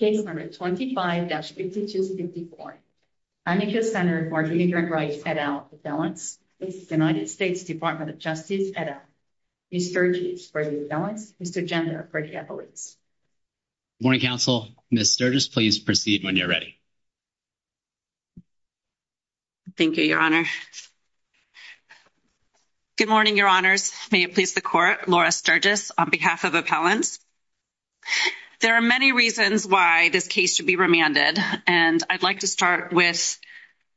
Case number 25-5254. Amica Center for Immigrant Rights et al. Appellants. United States Department of Justice et al. Ms. Sturgis for the appellants. Mr. Gender for the appellants. Good morning, counsel. Ms. Sturgis, please proceed when you're ready. Thank you, your honor. Good morning, your honors. May it please the court. Laura Sturgis on behalf of appellants. There are many reasons why this case should be remanded, and I'd like to start with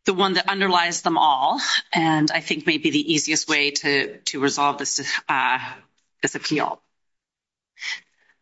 the one that underlies them all, and I think may be the easiest way to resolve this appeal.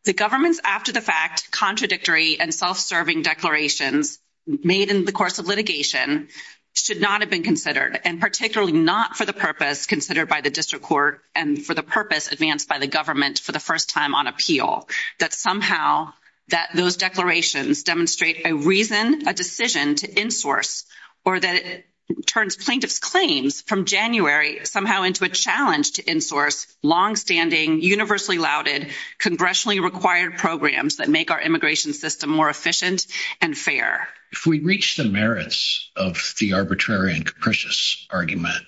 The government's after-the-fact, contradictory, and self-serving declarations made in the course of litigation should not have been considered, and particularly not for the purpose considered by the district court and for the purpose advanced by the government for the first time on appeal. That somehow that those declarations demonstrate a reason, a decision to insource, or that it turns plaintiff's claims from January somehow into a challenge to insource long-standing, universally lauded, congressionally required programs that make our immigration system more efficient and fair. If we reach the merits of the arbitrary and capricious argument,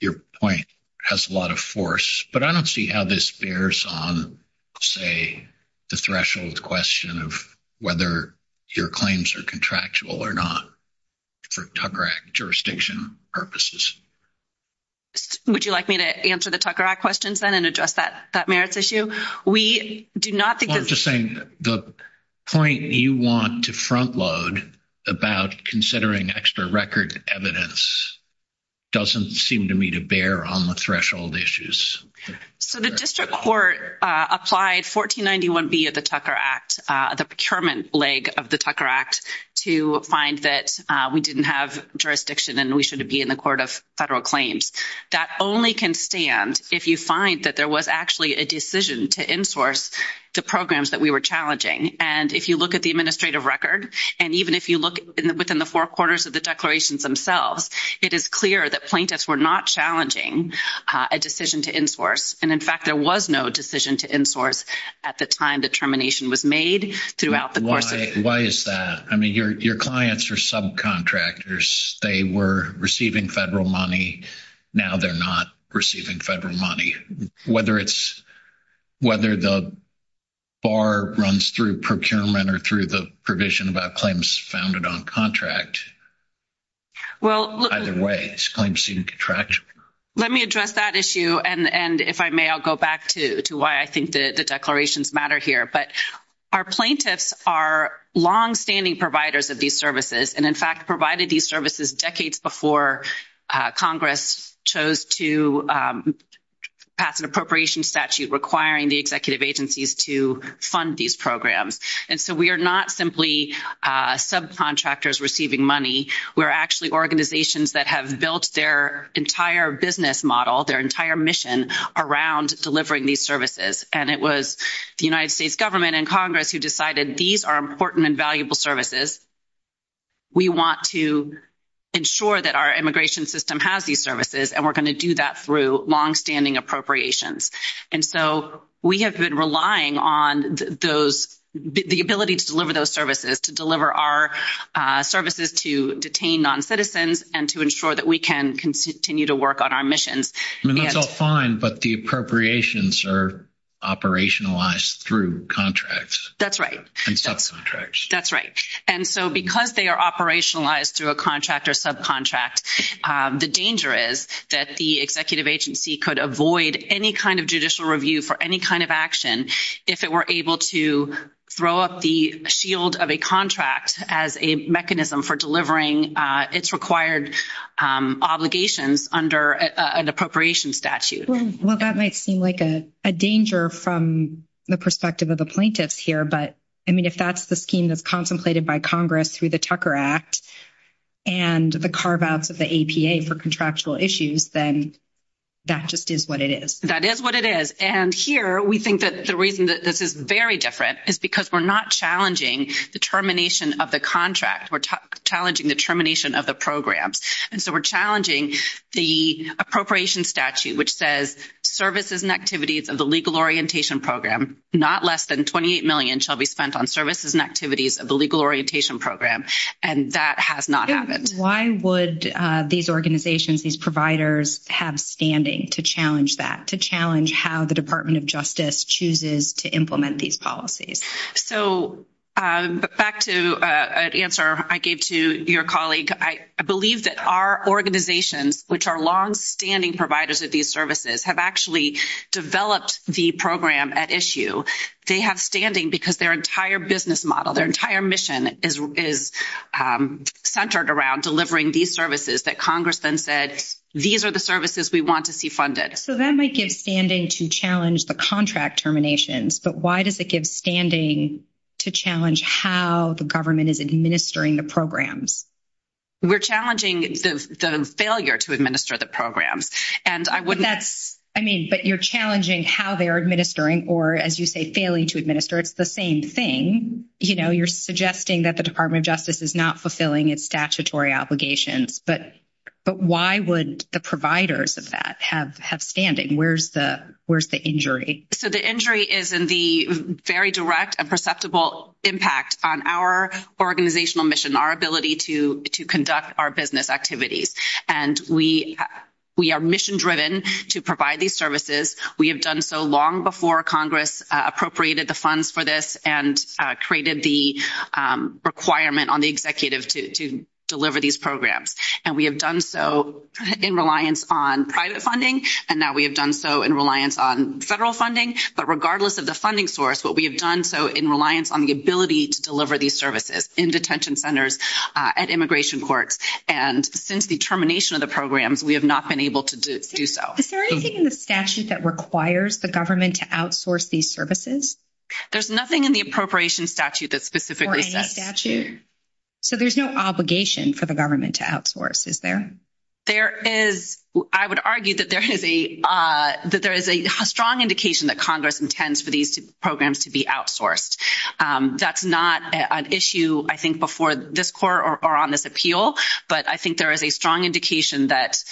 your point has a lot of force, but I don't see how this bears on, say, the threshold question of whether your claims are contractual or not for Tucker Act jurisdiction purposes. Would you like me to answer the Tucker Act questions then and address that merits issue? We do not think that's... Well, I'm just saying the point you want to front load about considering extra record evidence doesn't seem to me to bear on the threshold issues. So the district court applied 1491B of the Tucker Act, the procurement leg of the Tucker Act, to find that we didn't have jurisdiction and we should be in the court of federal claims. That only can stand if you find that there was actually a decision to insource the programs that we were challenging. And if you look at the administrative record, and even if you look within the four quarters of the declarations themselves, it is clear that plaintiffs were not challenging a decision to insource. And in fact, there was no decision to insource at the time the termination was made throughout the course of... Why is that? I mean, your clients are subcontractors. They were receiving federal money. Now they're not receiving federal money. Whether the bar runs through procurement or through the provision about claims founded on contract, either way, it's a claim-seeking contract. Let me address that issue. And if I may, I'll go back to why I think the declarations matter here. But our plaintiffs are longstanding providers of these services, and in fact, provided these services decades before Congress chose to pass an appropriation statute requiring the executive agencies to fund these programs. And so we are not simply subcontractors receiving money. We're actually organizations that have built their entire business model, their entire mission around delivering these services. And it was the United States government and Congress who decided these are important and valuable services. We want to ensure that our immigration system has these services, and we're going to do that through longstanding appropriations. And so we have been relying on the ability to deliver those services, to deliver our services to detained noncitizens, and to ensure that we can continue to work on our missions. I mean, that's all fine, but the appropriations are operationalized through contracts. That's right. And subcontracts. That's right. And so because they are operationalized through a contract or subcontract, the danger is that the executive agency could avoid any kind of judicial review for any kind of action if it were able to throw up the shield of a contract as a mechanism for delivering its required obligations under an appropriation statute. Well, that might seem like a danger from the perspective of the plaintiffs here, but I mean, that's the scheme that's contemplated by Congress through the Tucker Act and the carve-outs of the APA for contractual issues, then that just is what it is. That is what it is. And here, we think that the reason that this is very different is because we're not challenging the termination of the contract. We're challenging the termination of the programs. And so we're challenging the appropriation statute, which says services and activities of the Legal Orientation Program, not less than $28 million, shall be spent on services and activities of the Legal Orientation Program. And that has not happened. Why would these organizations, these providers, have standing to challenge that, to challenge how the Department of Justice chooses to implement these policies? So back to an answer I gave to your colleague, I believe that our organizations, which are longstanding providers of these services, have actually developed the program at issue. They have standing because their entire business model, their entire mission is centered around delivering these services that Congress then said, these are the services we want to see funded. So that might give standing to challenge the contract terminations, but why does it give standing to challenge how the government is administering the programs? We're challenging the failure to administer the programs. But you're challenging how they are administering or, as you say, failing to administer. It's the same thing. You're suggesting that the Department of Justice is not fulfilling its statutory obligations, but why would the providers of that have standing? Where's the injury? So the injury is in the very direct and perceptible impact on our organizational mission, our ability to conduct our business activities. And we are mission-driven to provide these services. We have done so long before Congress appropriated the funds for this and created the requirement on the executive to deliver these programs. And we have done so in reliance on private funding, and now we have done so in reliance on federal funding. But regardless of the funding source, what we have done so in reliance on the ability to deliver these services in detention centers, at immigration courts, and since the termination of the programs, we have not been able to do so. Is there anything in the statute that requires the government to outsource these services? There's nothing in the appropriation statute that specifically says. For any statute? So there's no obligation for the government to outsource, is there? There is. I would argue that there is a strong indication that Congress intends for these programs to be outsourced. That's not an issue, I think, before this court or on this appeal, but I think there is a strong indication that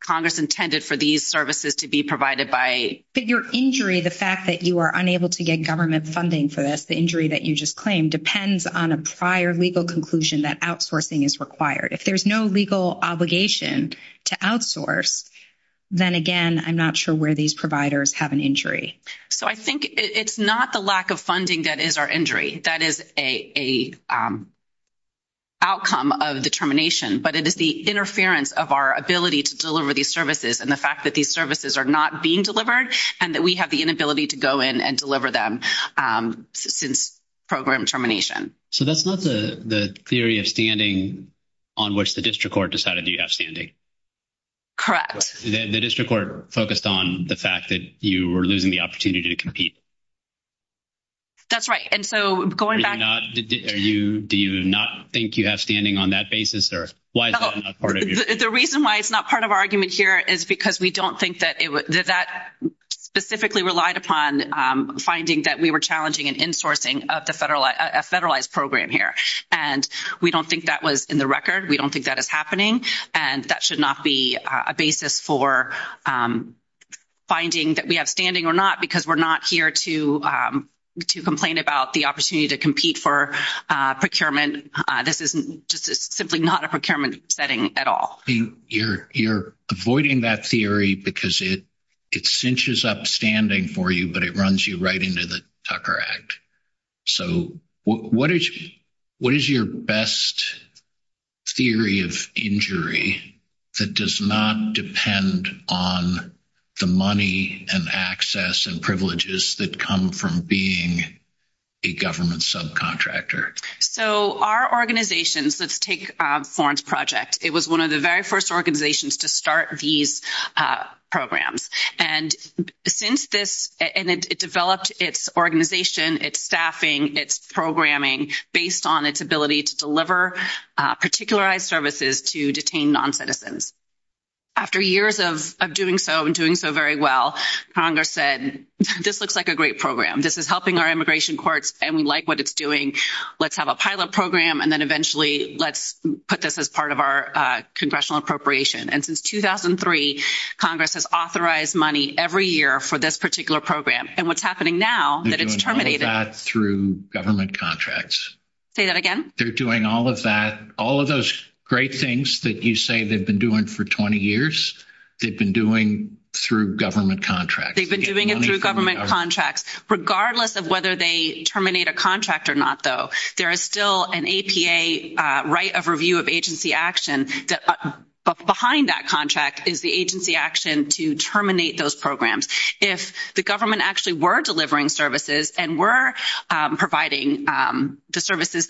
Congress intended for these services to be provided by... But your injury, the fact that you are unable to get government funding for this, the injury that you just claimed, depends on a prior legal conclusion that outsourcing is required. If there's no legal obligation to outsource, then again, I'm not sure where these providers have an So I think it's not the lack of funding that is our injury. That is a outcome of the termination, but it is the interference of our ability to deliver these services and the fact that these services are not being delivered and that we have the inability to go in and deliver them since program termination. So that's not the theory of standing on which the district court decided you have standing? Correct. The district court focused on the fact that you were opportunity to compete. That's right. And so going back... Do you not think you have standing on that basis or why is that not part of your argument? The reason why it's not part of our argument here is because we don't think that that specifically relied upon finding that we were challenging an insourcing of a federalized program here. And we don't think that was in the record. We don't think that is happening. And that should not be a basis for finding that we have standing or not because we're not here to complain about the opportunity to compete for procurement. This is just simply not a procurement setting at all. You're avoiding that theory because it cinches up standing for you, but it runs you right into the Tucker Act. So what is your best theory of injury that does not depend on the money and access and privileges that come from being a government subcontractor? So our organizations, let's take Florence Project. It was one of the very first organizations to start these programs. And it developed its organization, its staffing, its programming based on its ability to deliver particularized services to detain non-citizens. After years of doing so and doing so very well, Congress said, this looks like a great program. This is helping our immigration courts and we like what it's doing. Let's have a pilot program and then eventually let's put this as part of our congressional appropriation. And since 2003, Congress has authorized money every year for this particular program. And they're doing all of that through government contracts. Say that again? They're doing all of that. All of those great things that you say they've been doing for 20 years, they've been doing through government contracts. They've been doing it through government contracts. Regardless of whether they terminate a contract or not, though, there is still an APA right of review of agency action. Behind that contract is the agency action to terminate those programs. If the government actually were delivering services and were providing the services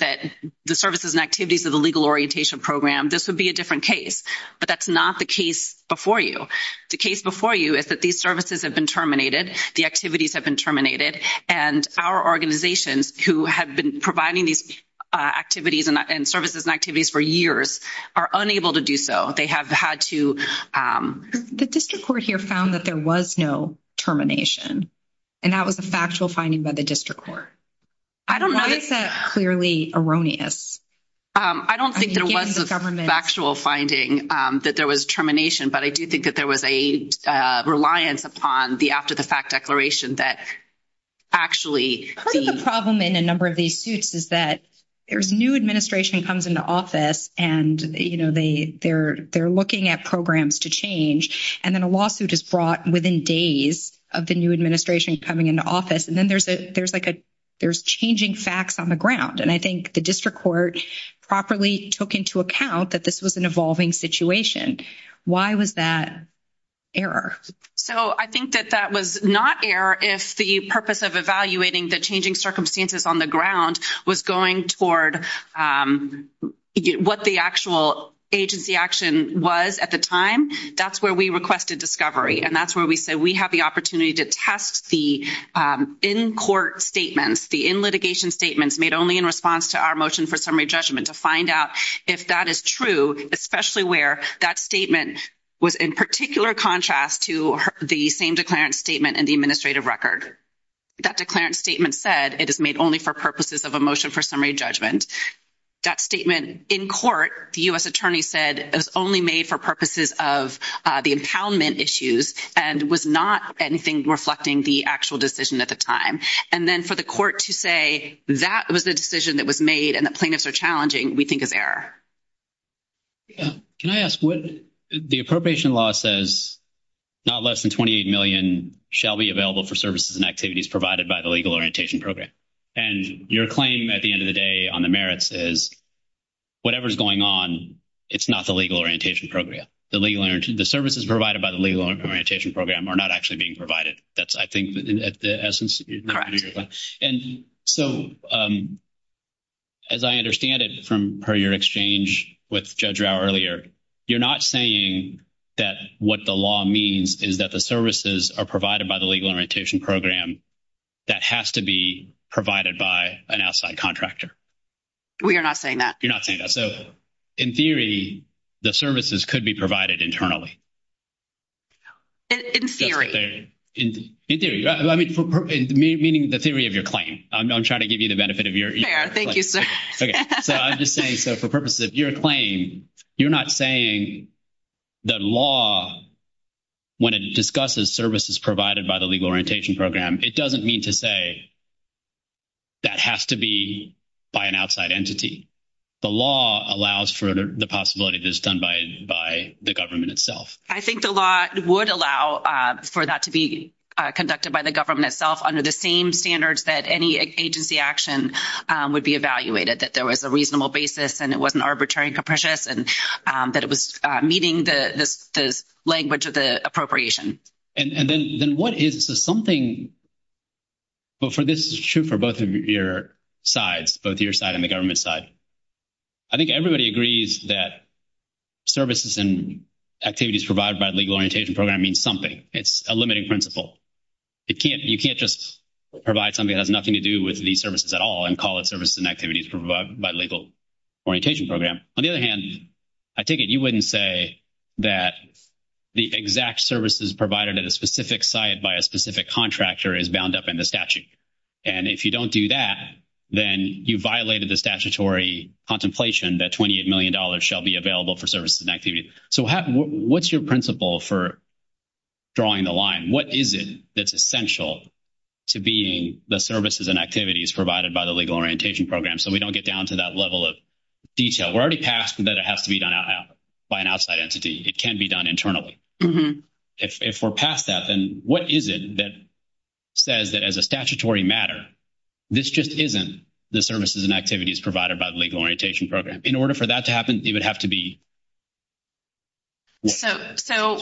and activities of the Legal Orientation Program, this would be a different case. But that's not the case before you. The case before you is that these services have been terminated, the activities have been terminated, and our organizations who have been providing these activities and services and activities for years are unable to do so. They have had to... The district court here found that there was no termination. And that was a factual finding by the district court. I don't know... Why is that clearly erroneous? I don't think there was a factual finding that there was termination, but I do think that there was a reliance upon the after-the-fact declaration that actually... Part of the problem in a number of these suits is that there's new administration comes into office, and they're looking at programs to change. And then a lawsuit is brought within days of the new administration coming into office. And then there's changing facts on the ground. And I think the district court properly took into account that this was an evolving situation. Why was that error? So, I think that that was not error if the purpose of evaluating the changing circumstances on the ground was going toward what the actual agency action was at the time. That's where we requested discovery. And that's where we said we have the opportunity to test the in-court statements, the in-litigation statements made only in response to our motion for summary judgment to find out if that is true, especially where that statement was in particular contrast to the same declarant statement in the administrative record. That declarant statement said it is made only for purposes of a motion for summary judgment. That statement in court, the U.S. attorney said, is only made for purposes of the impoundment issues and was not anything reflecting the actual decision at the time. And then for the court to say that was the decision that was made and the plaintiffs are challenging, we think is error. Can I ask, the appropriation law says not less than $28 million shall be available for services and activities provided by the Legal Orientation Program. And your claim at the end of the day on the merits is whatever is going on, it's not the Legal Orientation Program. The services provided by the Legal Orientation Program are not actually being provided. That's, I think, at the essence. Correct. And so, as I understand it from prior exchange with Judge Rau earlier, you're not saying that what the law means is that the services are provided by the Legal Orientation Program that has to be provided by an outside contractor. We are not saying that. You're not saying that. So, in theory, the services could be provided internally. In theory. In theory, meaning the theory of your claim. I'm trying to give you the benefit of your ear. Thank you, sir. Okay. So, I'm just saying, so for purposes of your claim, you're not saying the law, when it discusses services provided by the Legal Orientation Program, it doesn't mean to say that has to be by an outside entity. The law allows for the possibility that it's done by the government itself. I think the law would allow for that to be conducted by the government itself under the same standards that any agency action would be evaluated, that there was a reasonable basis and it wasn't arbitrary and capricious, and that it was meeting the language of the appropriation. And then what is something, but for this is true for both of your sides, both your side and the government side. I think everybody agrees that services and activities provided by Legal Orientation Program means something. It's a limiting principle. You can't just provide something that has nothing to do with these services at all and call it services and activities provided by Legal Orientation Program. On the other hand, I take it you wouldn't say that the exact services provided at a specific site by a specific contractor is bound up in the statute. And if you don't do that, then you violated the statutory contemplation that $28 million shall be available for services and activities. So what's your principle for drawing the line? What is it that's essential to being the services and activities provided by the Legal Orientation Program so we don't get down to that level of detail? We're already past that it has to be done by an outside entity. It can be done internally. If we're past that, then what is it that says that as a statutory matter, this just isn't the services and activities provided by the Legal Orientation Program? In order for that to happen, it would have to be... So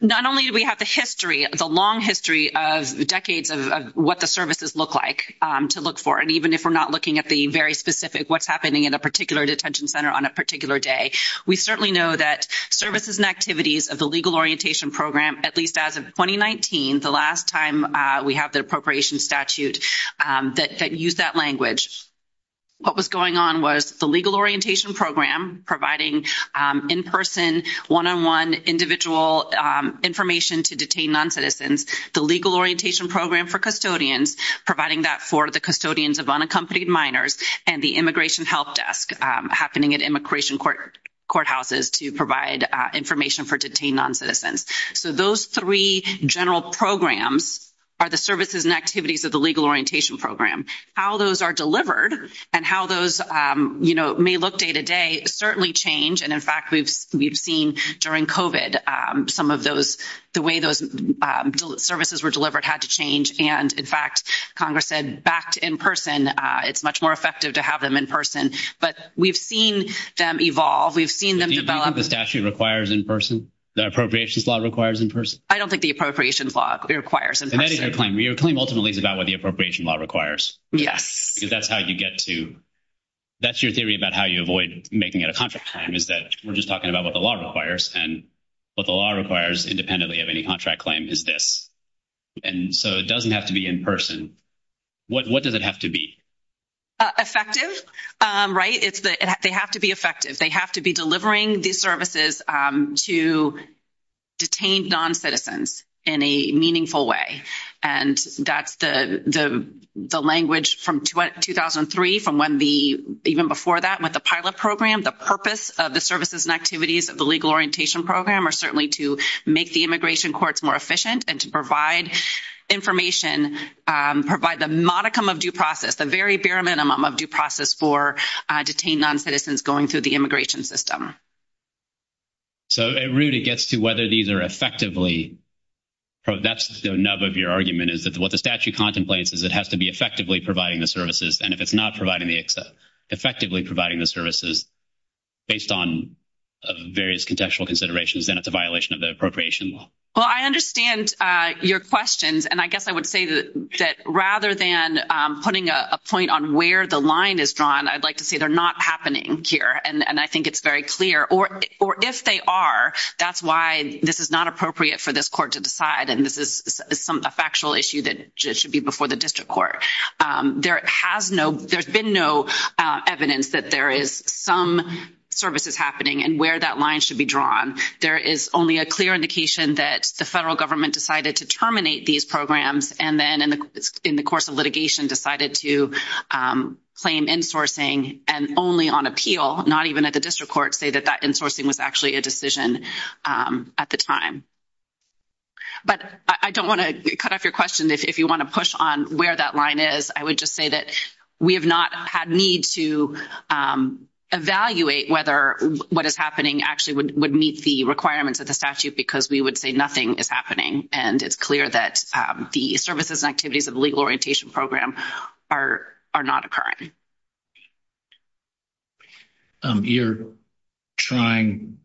not only do we have the history, the long history of decades of what the services look like to look for, and even if we're not looking at the very specific what's happening in a particular detention center on a particular day, we certainly know that services and activities of the Legal Orientation Program, at least as of 2019, the last time we have the appropriation statute that used that language. What was going on was the Legal Orientation Program providing in-person, one-on-one individual information to detain non-citizens, the Legal Orientation Program for custodians, providing that for the custodians of unaccompanied minors, and the Immigration Help Desk happening at immigration courthouses to provide information for detained non-citizens. So those three general programs are the services and activities of the Legal Orientation Program. How those are delivered and how those may look day-to-day certainly change, and in fact, we've seen during COVID some of the way those services were delivered had to change. In fact, Congress said back to in-person, it's much more effective to have them in-person, but we've seen them evolve. We've seen them develop. Do you think the statute requires in-person, the appropriations law requires in-person? I don't think the appropriations law requires in-person. And that is your claim. Your claim ultimately is about what the appropriation law requires. Yes. Because that's how you get to, that's your theory about how you avoid making it a contract claim, is that we're just talking about what the law requires, and what the law requires independently of any contract claim is this. And so it doesn't have to be in-person. What does it have to be? Effective, right? They have to be effective. They have to be delivering these services to detained non-citizens in a meaningful way. And that's the language from 2003, from when the, even before that, with the pilot program, the purpose of the services and activities of the legal orientation program are certainly to make the immigration courts more efficient and to provide information, provide the modicum of due process, the very bare minimum of due process for detained non-citizens going through the immigration system. So at root, it gets to whether these are effectively, that's the nub of your argument, is that what the statute contemplates is it has to be effectively providing the services. And if it's not effectively providing the services based on various contextual considerations, then it's a violation of the appropriation law. Well, I understand your questions. And I guess I would say that rather than putting a point on where the line is drawn, I'd like to say they're not happening here. And I think it's very clear. Or if they are, that's why this is not appropriate for this court to decide. And this is a factual issue that should be before the district court. There has no, there's been no evidence that there is some services happening and where that line should be drawn. There is only a clear indication that the federal government decided to terminate these programs and then in the course of litigation decided to claim insourcing and only on appeal, not even at the district court, say that that insourcing was actually a decision at the time. But I don't want to cut off your question. If you want to push on where that line is, I would just say that we have not had need to evaluate whether what is happening actually would meet the requirements of the statute, because we would say nothing is happening. And it's clear that the services and activities of the legal orientation program are not occurring. Thank you. You're trying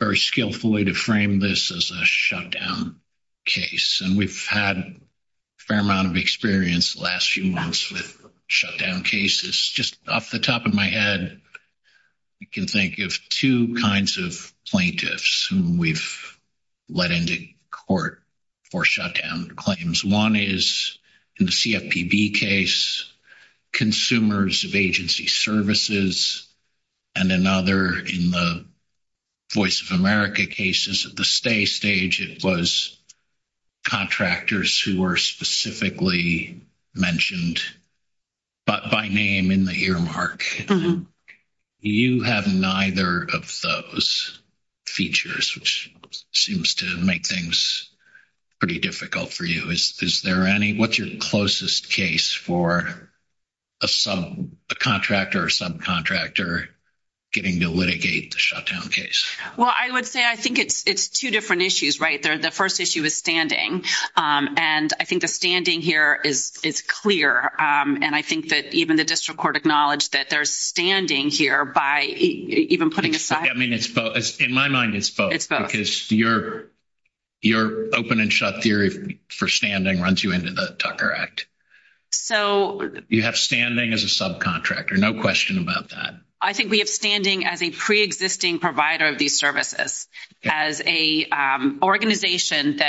very skillfully to frame this as a shutdown case. And we've had a fair amount of experience the last few months with shutdown cases. Just off the top of my head, you can think of two kinds of plaintiffs whom we've let into court for shutdown claims. One is in the CFPB case consumers of agency services. And another in the Voice of America cases at the stay stage, it was contractors who were specifically mentioned, but by name in the earmark. You have neither of those features, which seems to make things pretty difficult for you. Is there any? What's your closest case for a contractor or subcontractor getting to litigate the shutdown case? Well, I would say I think it's two different issues, right? The first issue is standing. And I think the standing here is clear. And I think that even the district court acknowledged that they're standing here by even putting aside- I mean, it's both. In my mind, it's both. It's both. Your open and shut theory for standing runs you into the Tucker Act. You have standing as a subcontractor, no question about that. I think we have standing as a pre-existing provider of these services, as an organization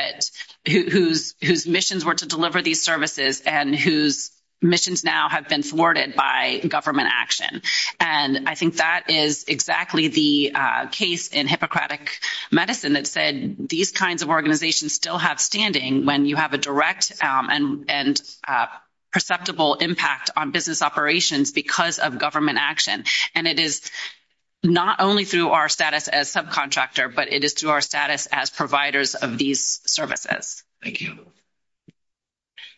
whose missions were to deliver these services and whose missions now have been thwarted by government action. And I think that is exactly the case in Hippocratic Medicine that said these kinds of organizations still have standing when you have a direct and perceptible impact on business operations because of government action. And it is not only through our status as subcontractor, but it is through our status as providers of these services. Thank you.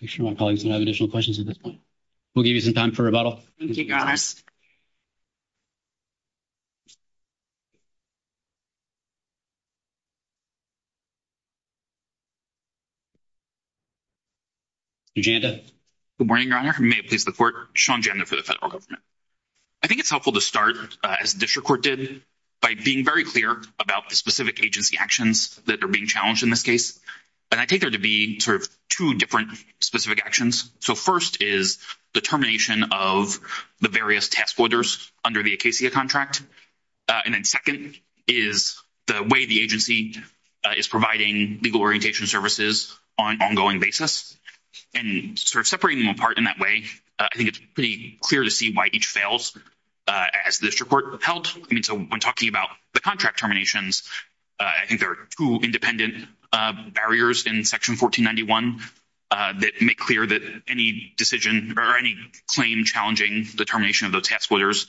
Make sure my colleagues don't have additional questions at this point. We'll give you some time for rebuttal. Thank you, your honors. Janda. Good morning, your honor. May it please the court. Sean Janda for the federal government. I think it's helpful to start, as the district court did, by being very clear about the specific agency actions that are being challenged in this case. And I take there to be sort of two different specific actions. So first is the termination of the various task orders under the ACACIA contract. And then second is the way the agency is providing legal orientation services on an ongoing basis. And sort of separating them apart in that way, I think it's pretty clear to see why each fails as the district court held. I mean, so when talking about the contract terminations, I think there are two independent barriers in section 1491 that make clear that any decision or any claim challenging the termination of those task orders,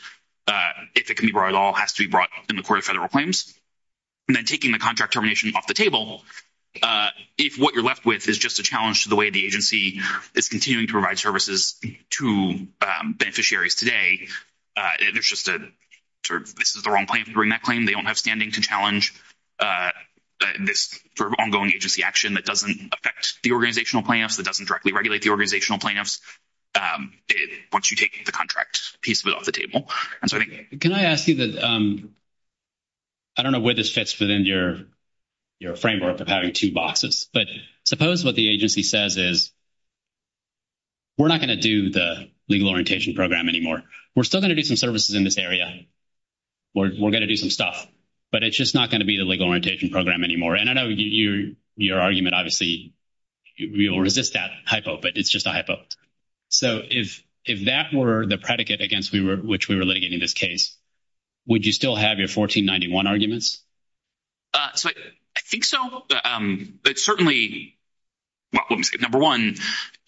if it can be brought at all, has to be brought in the court of federal claims. And then taking the contract termination off the table, if what you're left with is just a challenge to the way the agency is continuing to provide services to beneficiaries today, there's just a sort of this is the wrong claim to bring that they don't have standing to challenge this sort of ongoing agency action that doesn't affect the organizational plaintiffs, that doesn't directly regulate the organizational plaintiffs, once you take the contract piece of it off the table. And so I think... Can I ask you that I don't know where this fits within your framework of having two boxes, but suppose what the agency says is we're not going to do the legal orientation program anymore. We're still going to do some services in this area. We're going to do some stuff. But it's just not going to be the legal orientation program anymore. And I know your argument, obviously, we will resist that hypo, but it's just a hypo. So if that were the predicate against which we were litigating this case, would you still have your 1491 arguments? So I think so. It's certainly... Well, let me say, number one,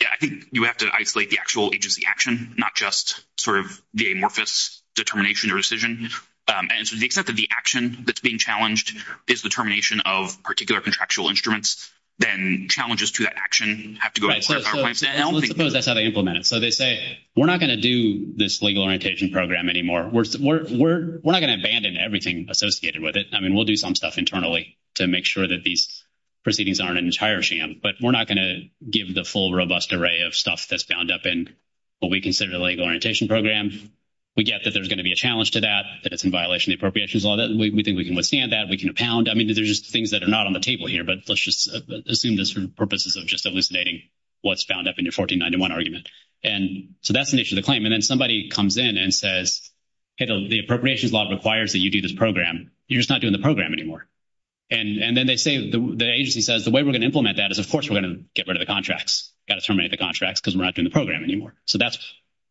I think you have to isolate the actual agency action, not just sort of the amorphous determination or decision. And so to the extent that the action that's being challenged is the termination of particular contractual instruments, then challenges to that action have to go... Right. So let's suppose that's how they implement it. So they say, we're not going to do this legal orientation program anymore. We're not going to abandon everything associated with it. I mean, we'll do some stuff internally to make sure that these proceedings aren't an entire sham, but we're not going to give the full robust array of stuff that's bound up in what we consider the legal orientation program. We get that there's going to be a challenge to that, that it's in violation of the appropriations law. We think we can withstand that. We can impound. I mean, there's just things that are not on the table here, but let's just assume this for purposes of just elucidating what's bound up in your 1491 argument. And so that's the nature of the claim. And then somebody comes in and says, the appropriations law requires that you do this program. You're just not doing the program anymore. And then they say, the agency says, the way we're going to implement that is, of course, we're going to get rid of the contracts. We've got to terminate the contracts because we're not doing the program anymore. So that's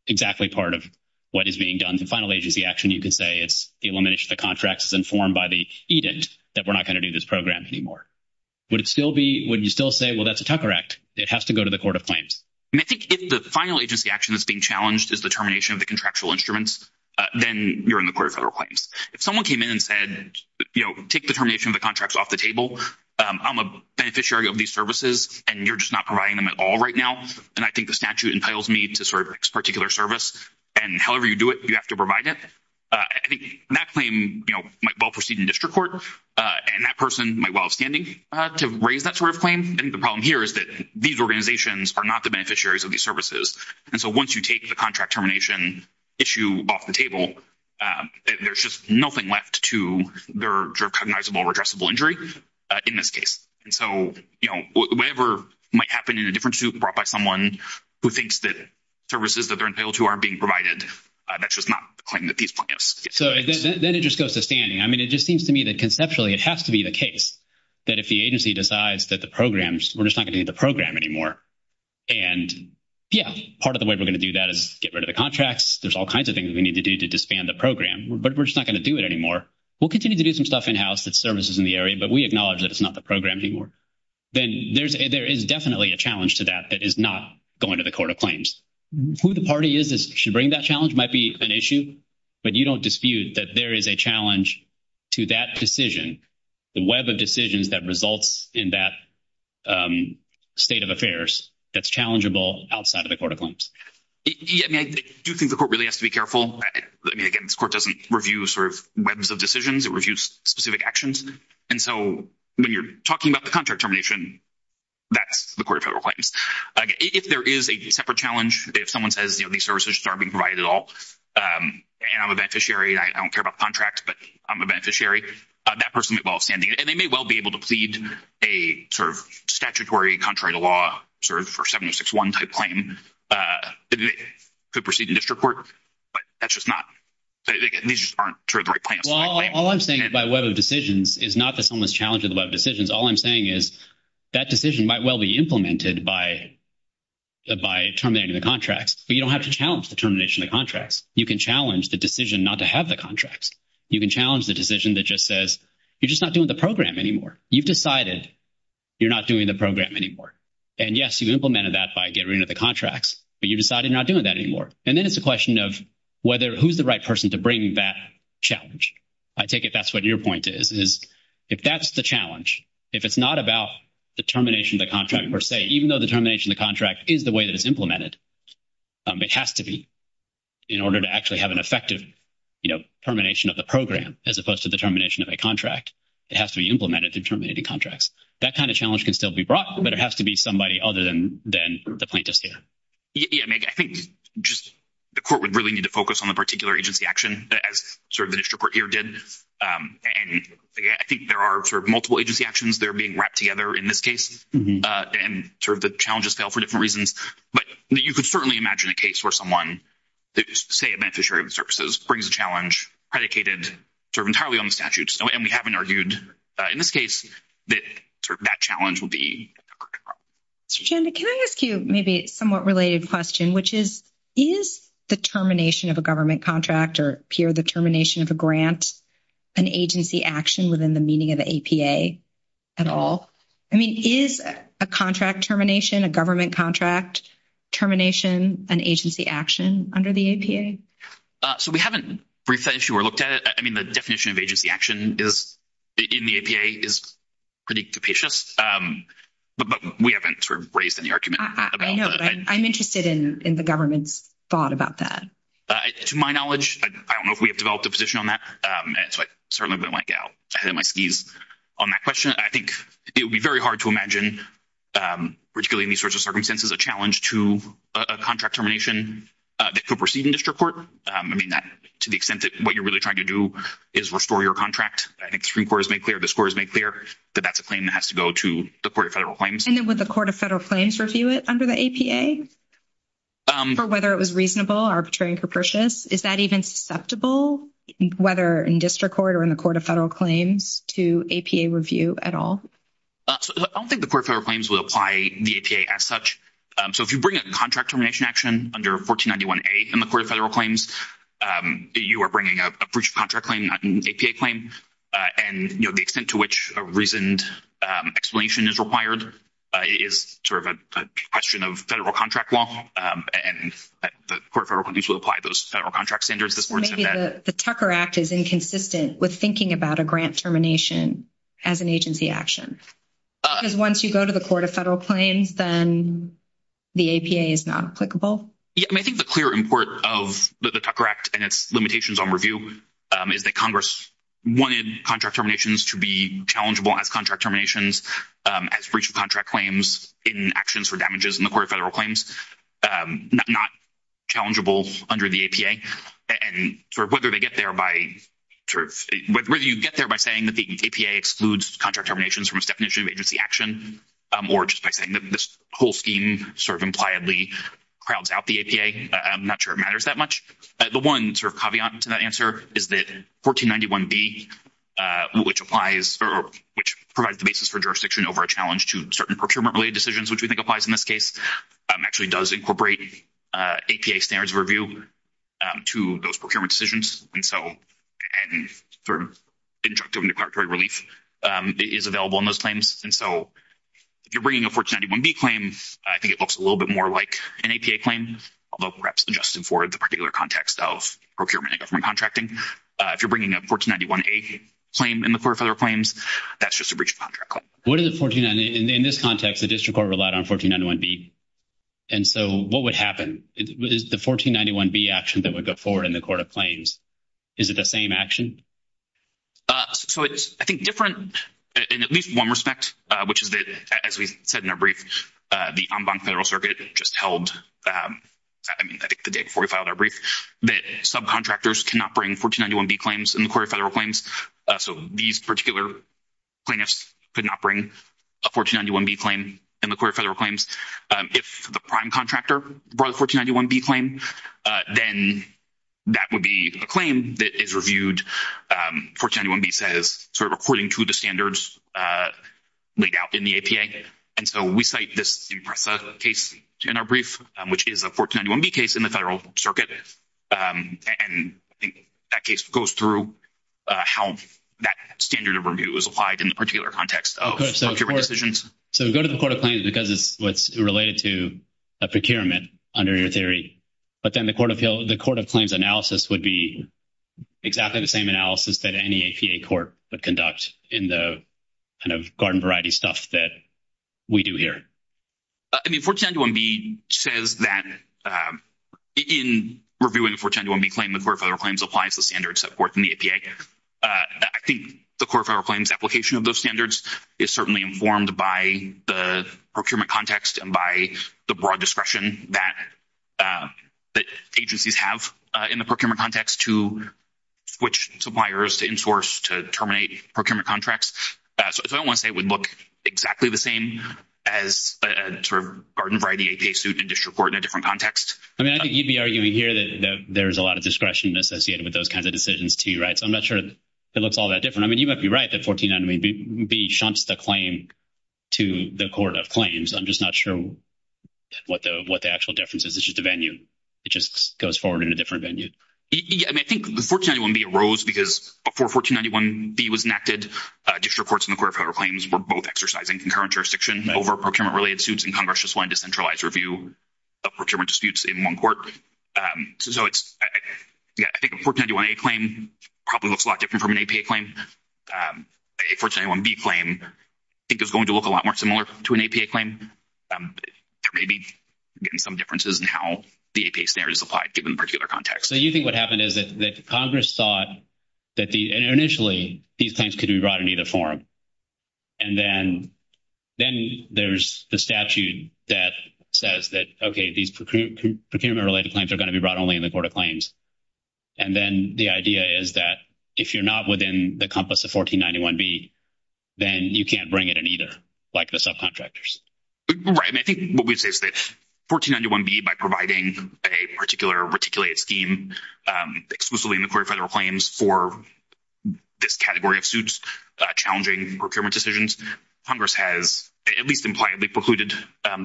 exactly part of what is being done. The final agency action, you can say, it's eliminated the contracts as informed by the edict that we're not going to do this program anymore. Would it still be, would you still say, well, that's a Tucker Act? It has to go to the court of claims. I think if the final agency action that's being challenged is the termination of the contractual instruments, then you're in the court of federal claims. If someone came in and said, take the termination of the contracts off the table. I'm a beneficiary of these services, and you're just not providing them at all right now. And I think the statute entitles me to this particular service. And however you do it, you have to provide it. I think that claim might well proceed in district court. And that person might well have standing to raise that sort of claim. And the problem here is that these organizations are not the beneficiaries of these services. And so once you take the contract termination issue off the table, there's just nothing left to their cognizable or addressable in this case. And so whatever might happen in a different suit brought by someone who thinks that services that they're entitled to aren't being provided, that's just not the claim that these plaintiffs get. So then it just goes to standing. I mean, it just seems to me that conceptually, it has to be the case that if the agency decides that the programs, we're just not going to do the program anymore. And yeah, part of the way we're going to do that is get rid of the contracts. There's all kinds of things we need to do to disband the program, but we're just not going to do it anymore. We'll continue to do some stuff in-house that services in the area, but we acknowledge that it's not the program anymore. Then there is definitely a challenge to that that is not going to the court of claims. Who the party is that should bring that challenge might be an issue, but you don't dispute that there is a challenge to that decision, the web of decisions that results in that state of affairs that's challengeable outside of the court of claims. Yeah, I mean, I do think the court really has to be careful. I mean, again, court doesn't review sort of webs of decisions. It reviews specific actions. And so when you're talking about the contract termination, that's the court of federal claims. If there is a separate challenge, if someone says, you know, these services aren't being provided at all, and I'm a beneficiary, and I don't care about contracts, but I'm a beneficiary, that person might well have standing. And they may well be able to plead a sort of statutory contrary to law, sort of for 761 type claim. They could proceed in district court, but that's just not, these just aren't the right plans. Well, all I'm saying by web of decisions is not that someone's challenging the web of decisions. All I'm saying is that decision might well be implemented by terminating the contracts, but you don't have to challenge the termination of the contracts. You can challenge the decision not to have the contracts. You can challenge the decision that just says, you're just not doing the program anymore. You've decided you're not doing the program anymore. And yes, you implemented that by getting rid of the contracts, but you decided not doing that anymore. And then it's a question of whether who's the right person to bring that challenge. I take it that's what your point is, is if that's the challenge, if it's not about the termination of the contract per se, even though the termination of the contract is the way that it's implemented, it has to be in order to actually have an effective, you know, termination of the program as opposed to the termination of a contract. It has to be implemented to terminate the contracts. That kind of challenge can still be brought, but it has to be somebody other than the plaintiffs here. Yeah, I think just the court would really need to focus on the particular agency action as sort of the district court here did. And I think there are sort of multiple agency actions that are being wrapped together in this case, and sort of the challenges fail for different reasons. But you could certainly imagine a case where someone, say a beneficiary of the services, brings a challenge predicated sort of entirely on the statute, and we haven't argued in this case that sort of that challenge will be. Mr. Janda, can I ask you maybe a somewhat related question, which is, is the termination of a government contract or, Pierre, the termination of a grant an agency action within the meaning of the APA at all? I mean, is a contract termination, a government contract termination an agency action under the APA? So we haven't briefed that issue or looked at it. I mean, the definition of agency action is in the APA is pretty capacious, but we haven't sort of raised any argument about that. I know, but I'm interested in the government's thought about that. To my knowledge, I don't know if we have developed a position on that, so I certainly wouldn't want to get ahead of my skis on that question. I think it would be very hard to imagine, particularly in these sorts of circumstances, a challenge to a contract termination that could proceed in district court. I mean, to the extent that what you're really trying to do is restore your contract, I think the Supreme Court has made clear, this Court has made clear that that's a claim that has to go to the Court of Federal Claims. And then would the Court of Federal Claims review it under the APA for whether it was reasonable, arbitrary, and capricious? Is that even susceptible, whether in district court or in the Court of Federal Claims, to APA review at all? I don't think the Court of Federal Claims would apply the APA as such. So if you bring a contract termination action under 1491A in the Court of Federal Claims, you are bringing a breach of contract claim, not an APA claim. And, you know, the extent to which a reasoned explanation is required is sort of a question of federal contract law. And the Court of Federal Claims will apply those federal contract standards. So maybe the Tucker Act is inconsistent with thinking about a grant termination as an agency action. Because once you go to the Court of Federal Claims, then the APA is not applicable. Yeah, I mean, I think the clear import of the Tucker Act and its limitations on review is that Congress wanted contract terminations to be challengeable as contract terminations, as breach of contract claims in actions for damages in the Court of Federal Claims, not challengeable under the APA. And sort of whether they get there by sort of whether you get there by saying that the APA excludes contract terminations from its definition of agency action, or just by saying that this whole scheme sort of impliedly crowds out the APA, I'm not sure it matters that much. The one sort of caveat to that answer is that 1491B, which applies or which provides the basis for jurisdiction over a challenge to certain procurement-related decisions, which we think applies in this case, actually does incorporate APA standards of review to those procurement decisions. And so, and for injunctive and declaratory relief is available in those claims. And so, if you're bringing a 1491B claim, I think it looks a little bit more like an APA claim, although perhaps adjusted for the particular context of procurement and government contracting. If you're bringing a 1491A claim in the Court of Federal Claims, that's just a breach of contract claim. What is a 1491, in this context, the 1491B action that would go forward in the Court of Claims? Is it the same action? So, it's, I think, different in at least one respect, which is that, as we said in our brief, the En banc Federal Circuit just held, I mean, I think the day before we filed our brief, that subcontractors cannot bring 1491B claims in the Court of Federal Claims. So, these particular plaintiffs could not bring a 1491B claim in the Court of Federal Claims. If the prime contractor brought a 1491B claim, then that would be a claim that is reviewed, 1491B says, sort of according to the standards laid out in the APA. And so, we cite this IMPRESA case in our brief, which is a 1491B case in the Federal Circuit. And I think that case goes through how that standard of review is applied in the particular context of procurement decisions. So, go to the Court of Claims because it's related to a procurement under your theory, but then the Court of Claims analysis would be exactly the same analysis that any APA court would conduct in the kind of garden variety stuff that we do here. I mean, 1491B says that in reviewing a 1491B claim, the Court of Federal Claims applies the standards set forth in the APA. I think the Court of Federal Claims application of those standards is certainly informed by the procurement context and by the broad discretion that agencies have in the procurement context to switch suppliers to insource to terminate procurement contracts. So, I don't want to say it would look exactly the same as a sort of garden variety APA suit in district court in a different context. I mean, I think you'd be arguing here that there's a lot of discretion associated with those kinds of decisions too, right? So, I'm not sure it looks all that different. I mean, you might be right that 1491B shunts the claim to the Court of Claims. I'm just not sure what the actual difference is. It's just a venue. It just goes forward in a different venue. I mean, I think 1491B arose because before 1491B was enacted, district courts in the Court of Federal Claims were both exercising concurrent jurisdiction over procurement-related suits and Congress just wanted to centralize review of procurement disputes in one court. So, I think a 1491A claim probably looks a lot different from an APA claim. A 1491B claim I think is going to look a lot more similar to an APA claim. There may be, again, some differences in how the APA standard is applied given the particular context. So, you think what happened is that Congress thought that the initially these claims could be brought in either form. And then there's the statute that says that, okay, these procurement-related claims are going to be brought only in the Court of Claims. And then the idea is that if you're not within the compass of 1491B, then you can't bring it in either, like the subcontractors. Right. I mean, I think what we'd say is that 1491B, by providing a particular reticulated scheme exclusively in the Court of Federal Claims for this category of suits challenging procurement decisions, Congress has at least impliedly precluded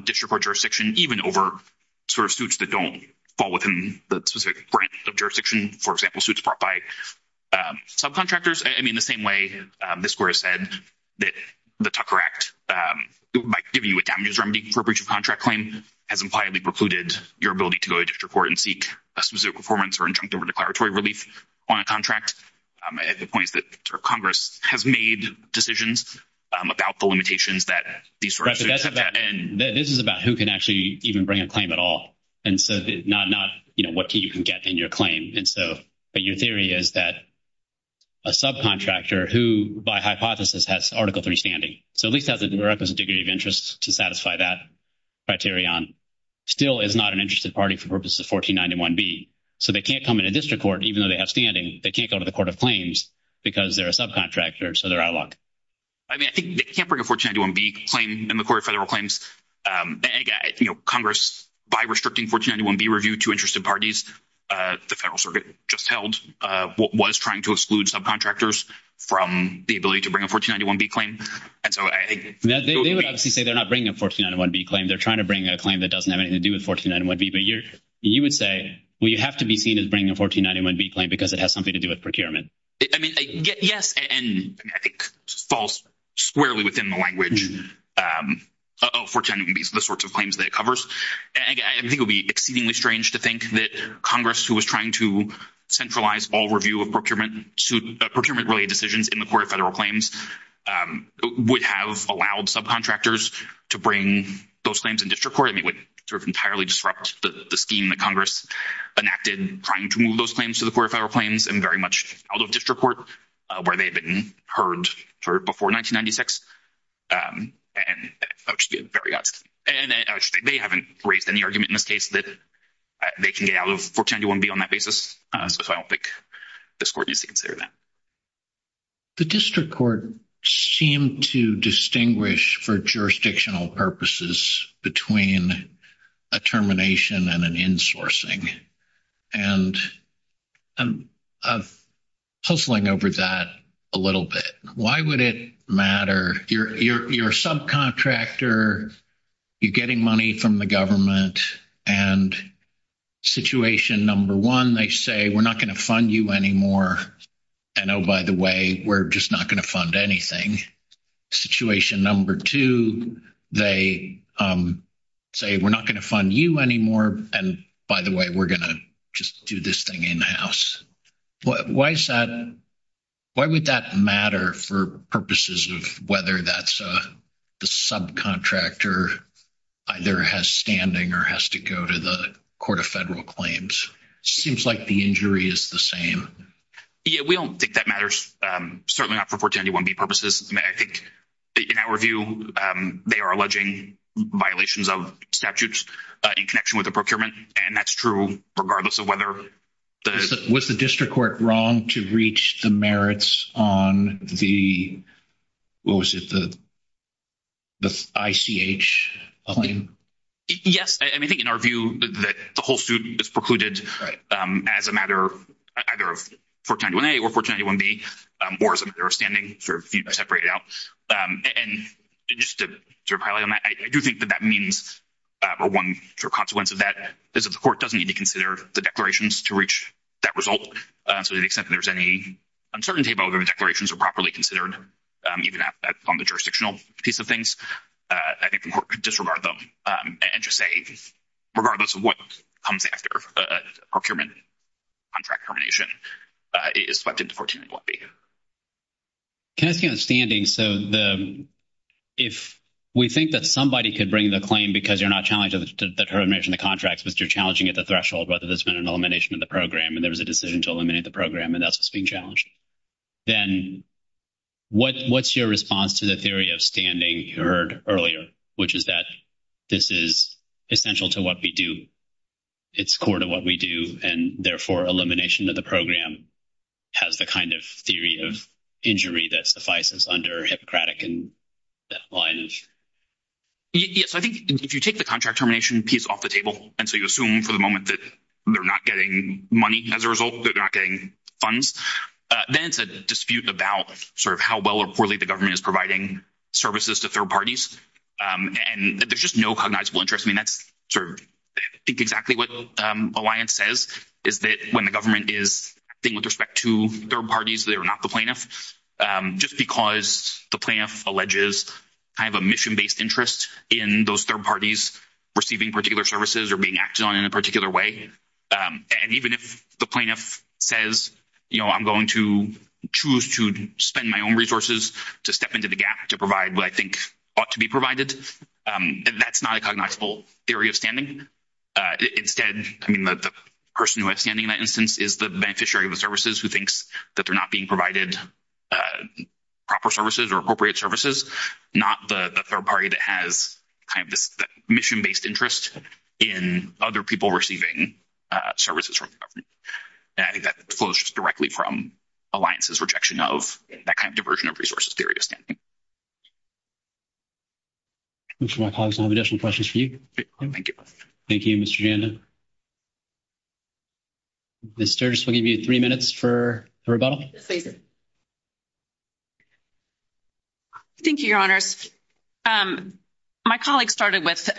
district court jurisdiction even over sort of suits that don't fall within the specific branch of jurisdiction, for example, suits brought by subcontractors. I mean, the same way this Court has said that the Tucker Act might give you a damages remedy for a breach of contract claim has impliedly precluded your ability to go to district court and seek a specific performance or injunctive or declaratory relief on a contract, at the points that Congress has made decisions about the limitations that these sorts of suits even bring a claim at all. And so not what you can get in your claim. And so your theory is that a subcontractor who, by hypothesis, has Article III standing, so at least has a requisite degree of interest to satisfy that criterion, still is not an interested party for purposes of 1491B. So they can't come into district court, even though they have standing. They can't go to the Court of Claims because they're a subcontractor, so they're out of luck. I mean, I think they can't bring a 1491B claim in the Court of Federal Claims. And Congress, by restricting 1491B review to interested parties, the Federal Circuit just held what was trying to exclude subcontractors from the ability to bring a 1491B claim. And so I think- They would obviously say they're not bringing a 1491B claim. They're trying to bring a claim that doesn't have anything to do with 1491B. But you would say, well, you have to be seen as bringing a 1491B claim because it has something to do with procurement. I mean, yes. And I think it falls squarely within the language of 1491B, the sorts of claims that it covers. And I think it would be exceedingly strange to think that Congress, who was trying to centralize all review of procurement-related decisions in the Court of Federal Claims, would have allowed subcontractors to bring those claims in district court. I mean, it would sort of entirely disrupt the scheme that Congress enacted trying to move those claims to the Court of Federal Claims and very much out of district court where they had been heard before 1996. And they haven't raised any argument in this case that they can get out of 1491B on that basis. So I don't think this Court needs to consider that. The district court seemed to distinguish for jurisdictional purposes between a termination and an insourcing. And I'm hustling over that a little bit. Why would it matter? You're a subcontractor. You're getting money from the government. And situation number one, they say, we're not going to fund you anymore. And oh, by the way, we're just not going to fund anything. Situation number two, they say, we're not going to fund you anymore. And by the way, we're going to just do this thing in-house. Why is that? Why would that matter for purposes of whether that's the subcontractor either has standing or has to go to the Court of Federal Claims? Seems like the injury is the same. Yeah, we don't think that matters. Certainly not for 1491B purposes. I think, in our view, they are alleging violations of statutes in connection with the procurement. And that's true regardless of whether the... Was the district court wrong to reach the merits on the, what was it, the ICH claim? Yes. I mean, I think in our view that the whole suit is precluded as a matter either of 1491A or 1491B, or as a matter of standing, sort of separated out. And just to sort of highlight on that, I do think that that means, or one sort of consequence of that is that the court doesn't need to consider the declarations to reach that result. So to the extent that there's any uncertainty about whether the declarations are properly considered, even on the jurisdictional piece of things, I think the court could disregard them and just say, regardless of what comes after procurement contract termination, it is swept into 1491B. Can I ask you on standing? So if we think that somebody could bring the claim because you're not challenging the termination of the contracts, but you're challenging at the threshold whether there's been an elimination of the program, and there was a decision to eliminate the program, and that's what's being challenged, then what's your response to the theory of standing you heard earlier, which is that this is essential to what we do, it's core to what we do, and therefore, elimination of the program has the kind of theory of injury that suffices under Hippocratic and that line of... Yes, I think if you take the contract termination piece off the table, and so you assume for the moment that they're not getting money as a result, they're not getting funds, then it's a dispute about sort of how well or poorly the government is providing services to third parties, and there's just no cognizable interest. I mean, that's sort of I think exactly what Alliance says is that when the government is acting with respect to third parties, they are not the plaintiff, just because the plaintiff alleges kind of a mission-based interest in those third parties receiving particular services or being acted on in a particular way, and even if the plaintiff says, you know, I'm going to choose to spend my own resources to step into the gap to provide what I think ought to be provided, that's not a cognizable theory of standing. Instead, I mean, the person who has standing in that instance is the beneficiary of the services who thinks that they're not being provided proper services or appropriate services, not the third party that has kind of this mission-based interest in other people receiving services from the government, and I think that flows directly from Alliance's rejection of that kind of diversion of resources theory of standing. My colleagues, I have additional questions for you. Thank you. Thank you, Mr. Janda. Ms. Sturgis, we'll give you three minutes for the rebuttal. Thank you, Your Honors. My colleague started with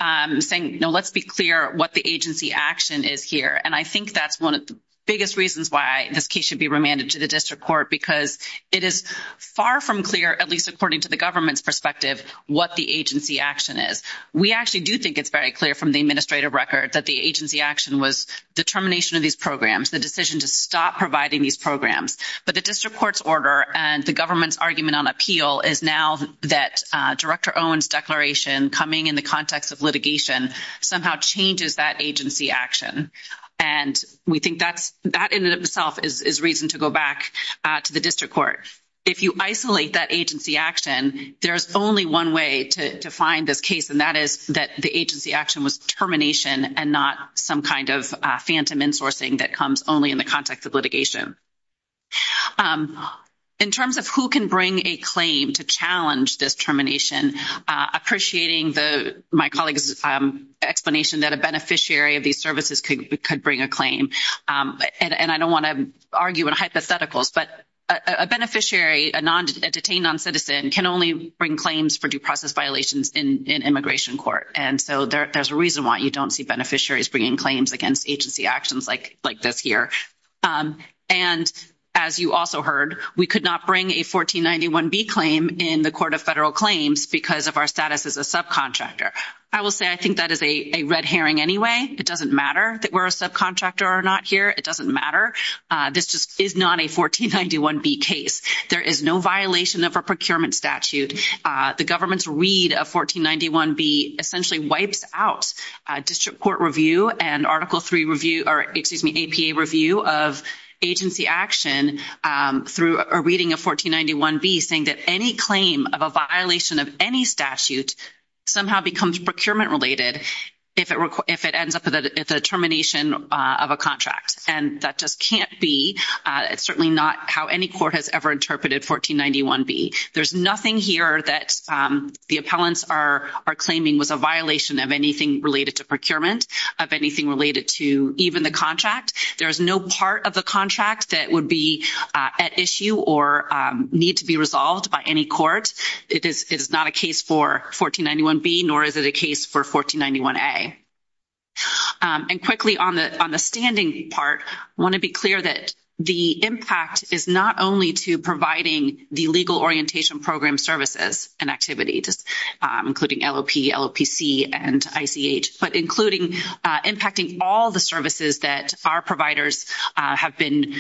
saying, you know, let's be clear what the agency action is here, and I think that's one of the biggest reasons why this case should be remanded to the district court because it is far from clear, at least according to the government's perspective, what the agency action is. We actually do think it's very clear from the administrative record that the agency action was determination of these programs, the decision to stop providing these programs, but the district court's order and the government's argument on appeal is now that Director Owen's declaration coming in the context of litigation somehow changes that agency action, and we think that in and of itself is reason to go back to the district court. If you isolate that agency action, there's only one way to define this case, and that is that the agency action was determination and not some kind of phantom insourcing that comes only in the context of litigation. In terms of who can bring a claim to challenge this termination, appreciating my colleague's explanation that a beneficiary of these services could bring a claim, and I don't want to argue in hypotheticals, but a beneficiary, a detained noncitizen, can only bring claims for due process violations in immigration court, and so there's a reason why you don't see beneficiaries bringing claims against agency actions like this here, and as you also heard, we could not bring a 1491B claim in the Court of Federal Claims because of our status as a subcontractor. I will say I think that is a red herring anyway. It doesn't matter that we're a subcontractor or not here. It doesn't matter. This just is not a 1491B case. There is no violation of our procurement statute. The APA review of agency action through a reading of 1491B saying that any claim of a violation of any statute somehow becomes procurement related if it ends up at the termination of a contract, and that just can't be. It's certainly not how any court has ever interpreted 1491B. There's nothing here that the appellants are claiming was a violation of anything related to procurement, of anything related to even the contract. There is no part of the contract that would be at issue or need to be resolved by any court. It is not a case for 1491B, nor is it a case for 1491A, and quickly on the standing part, I want to be clear that the impact is not only to providing the Legal Orientation Program services and activities, including LOP, LOPC, and ICH, including impacting all the services that our providers have been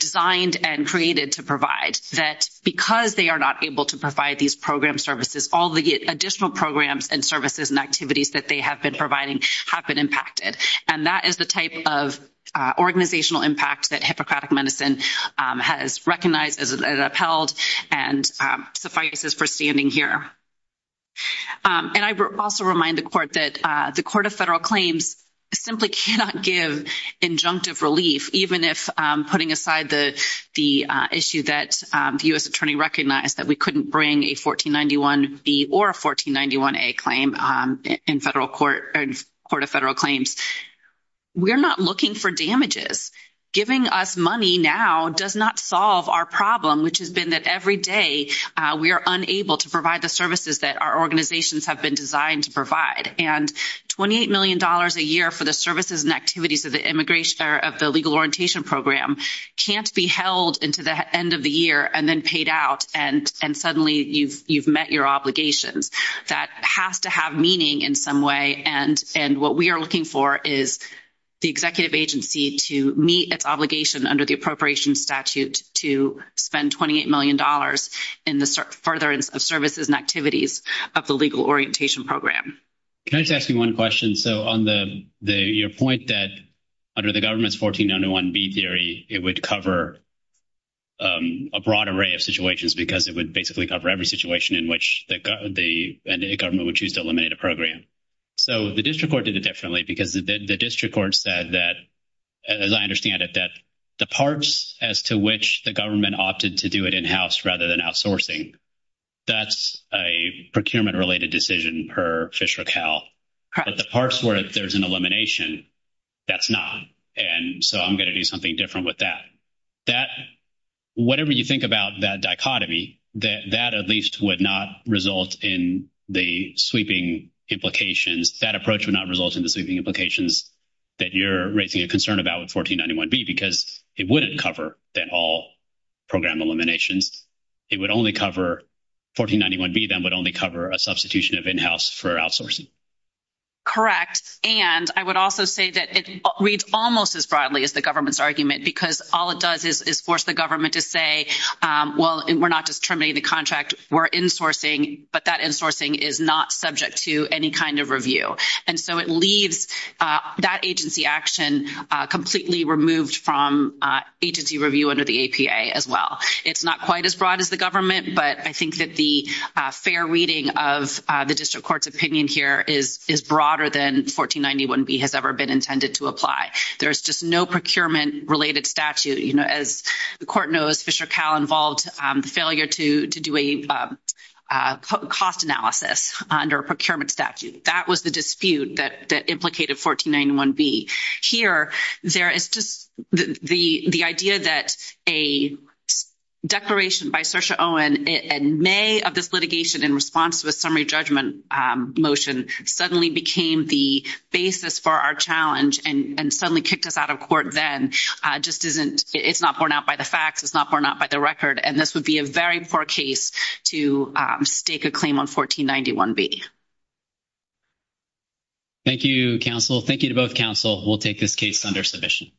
designed and created to provide, that because they are not able to provide these program services, all the additional programs and services and activities that they have been providing have been impacted, and that is the type of organizational impact that Hippocratic Medicine has recognized and upheld and suffices for standing here. And I also remind the Court that the Court of Federal Claims simply cannot give injunctive relief, even if putting aside the issue that the U.S. Attorney recognized that we couldn't bring a 1491B or a 1491A claim in the Court of Federal Claims. We are not looking for damages. Giving us money now does not solve our problem, which has been that every day we are unable to provide the services that our organizations have been designed to provide, and $28 million a year for the services and activities of the immigration or of the Legal Orientation Program can't be held into the end of the year and then paid out, and suddenly you've met your obligations. That has to have meaning in some way, and what we are looking for is the executive agency to meet its obligation under the Appropriations Statute to spend $28 million in the furtherance of services and activities of the Legal Orientation Program. Can I just ask you one question? So on your point that under the government's 1491B theory, it would cover a broad array of situations because it would basically cover every situation in which the government would choose to eliminate a program. So the district court did it differently because the district court said that, as I understand it, the parts as to which the government opted to do it in-house rather than outsourcing, that's a procurement-related decision per Fisher et al., but the parts where there's an elimination, that's not, and so I'm going to do something different with that. Whatever you think about that dichotomy, that at least would not result in the sweeping implications. That approach would not result in the sweeping implications that you're raising a it wouldn't cover that all program eliminations. It would only cover, 1491B then would only cover a substitution of in-house for outsourcing. Correct, and I would also say that it reads almost as broadly as the government's argument because all it does is force the government to say, well, we're not just terminating the contract, we're insourcing, but that insourcing is not subject to any kind of review, and so it leaves that agency action completely removed from agency review under the APA as well. It's not quite as broad as the government, but I think that the fair reading of the district court's opinion here is broader than 1491B has ever been intended to apply. There's just no procurement-related statute. As the court knows, Fisher et al. involved the failure to do a cost analysis under a procurement statute. That was the dispute that implicated 1491B. Here, there is just the idea that a declaration by Saoirse Owen in May of this litigation in response to a summary judgment motion suddenly became the basis for our challenge and suddenly kicked us out of court then just isn't, it's not borne out by the facts, it's not borne out by the and this would be a very poor case to stake a claim on 1491B. Thank you, counsel. Thank you to both counsel. We'll take this case under submission.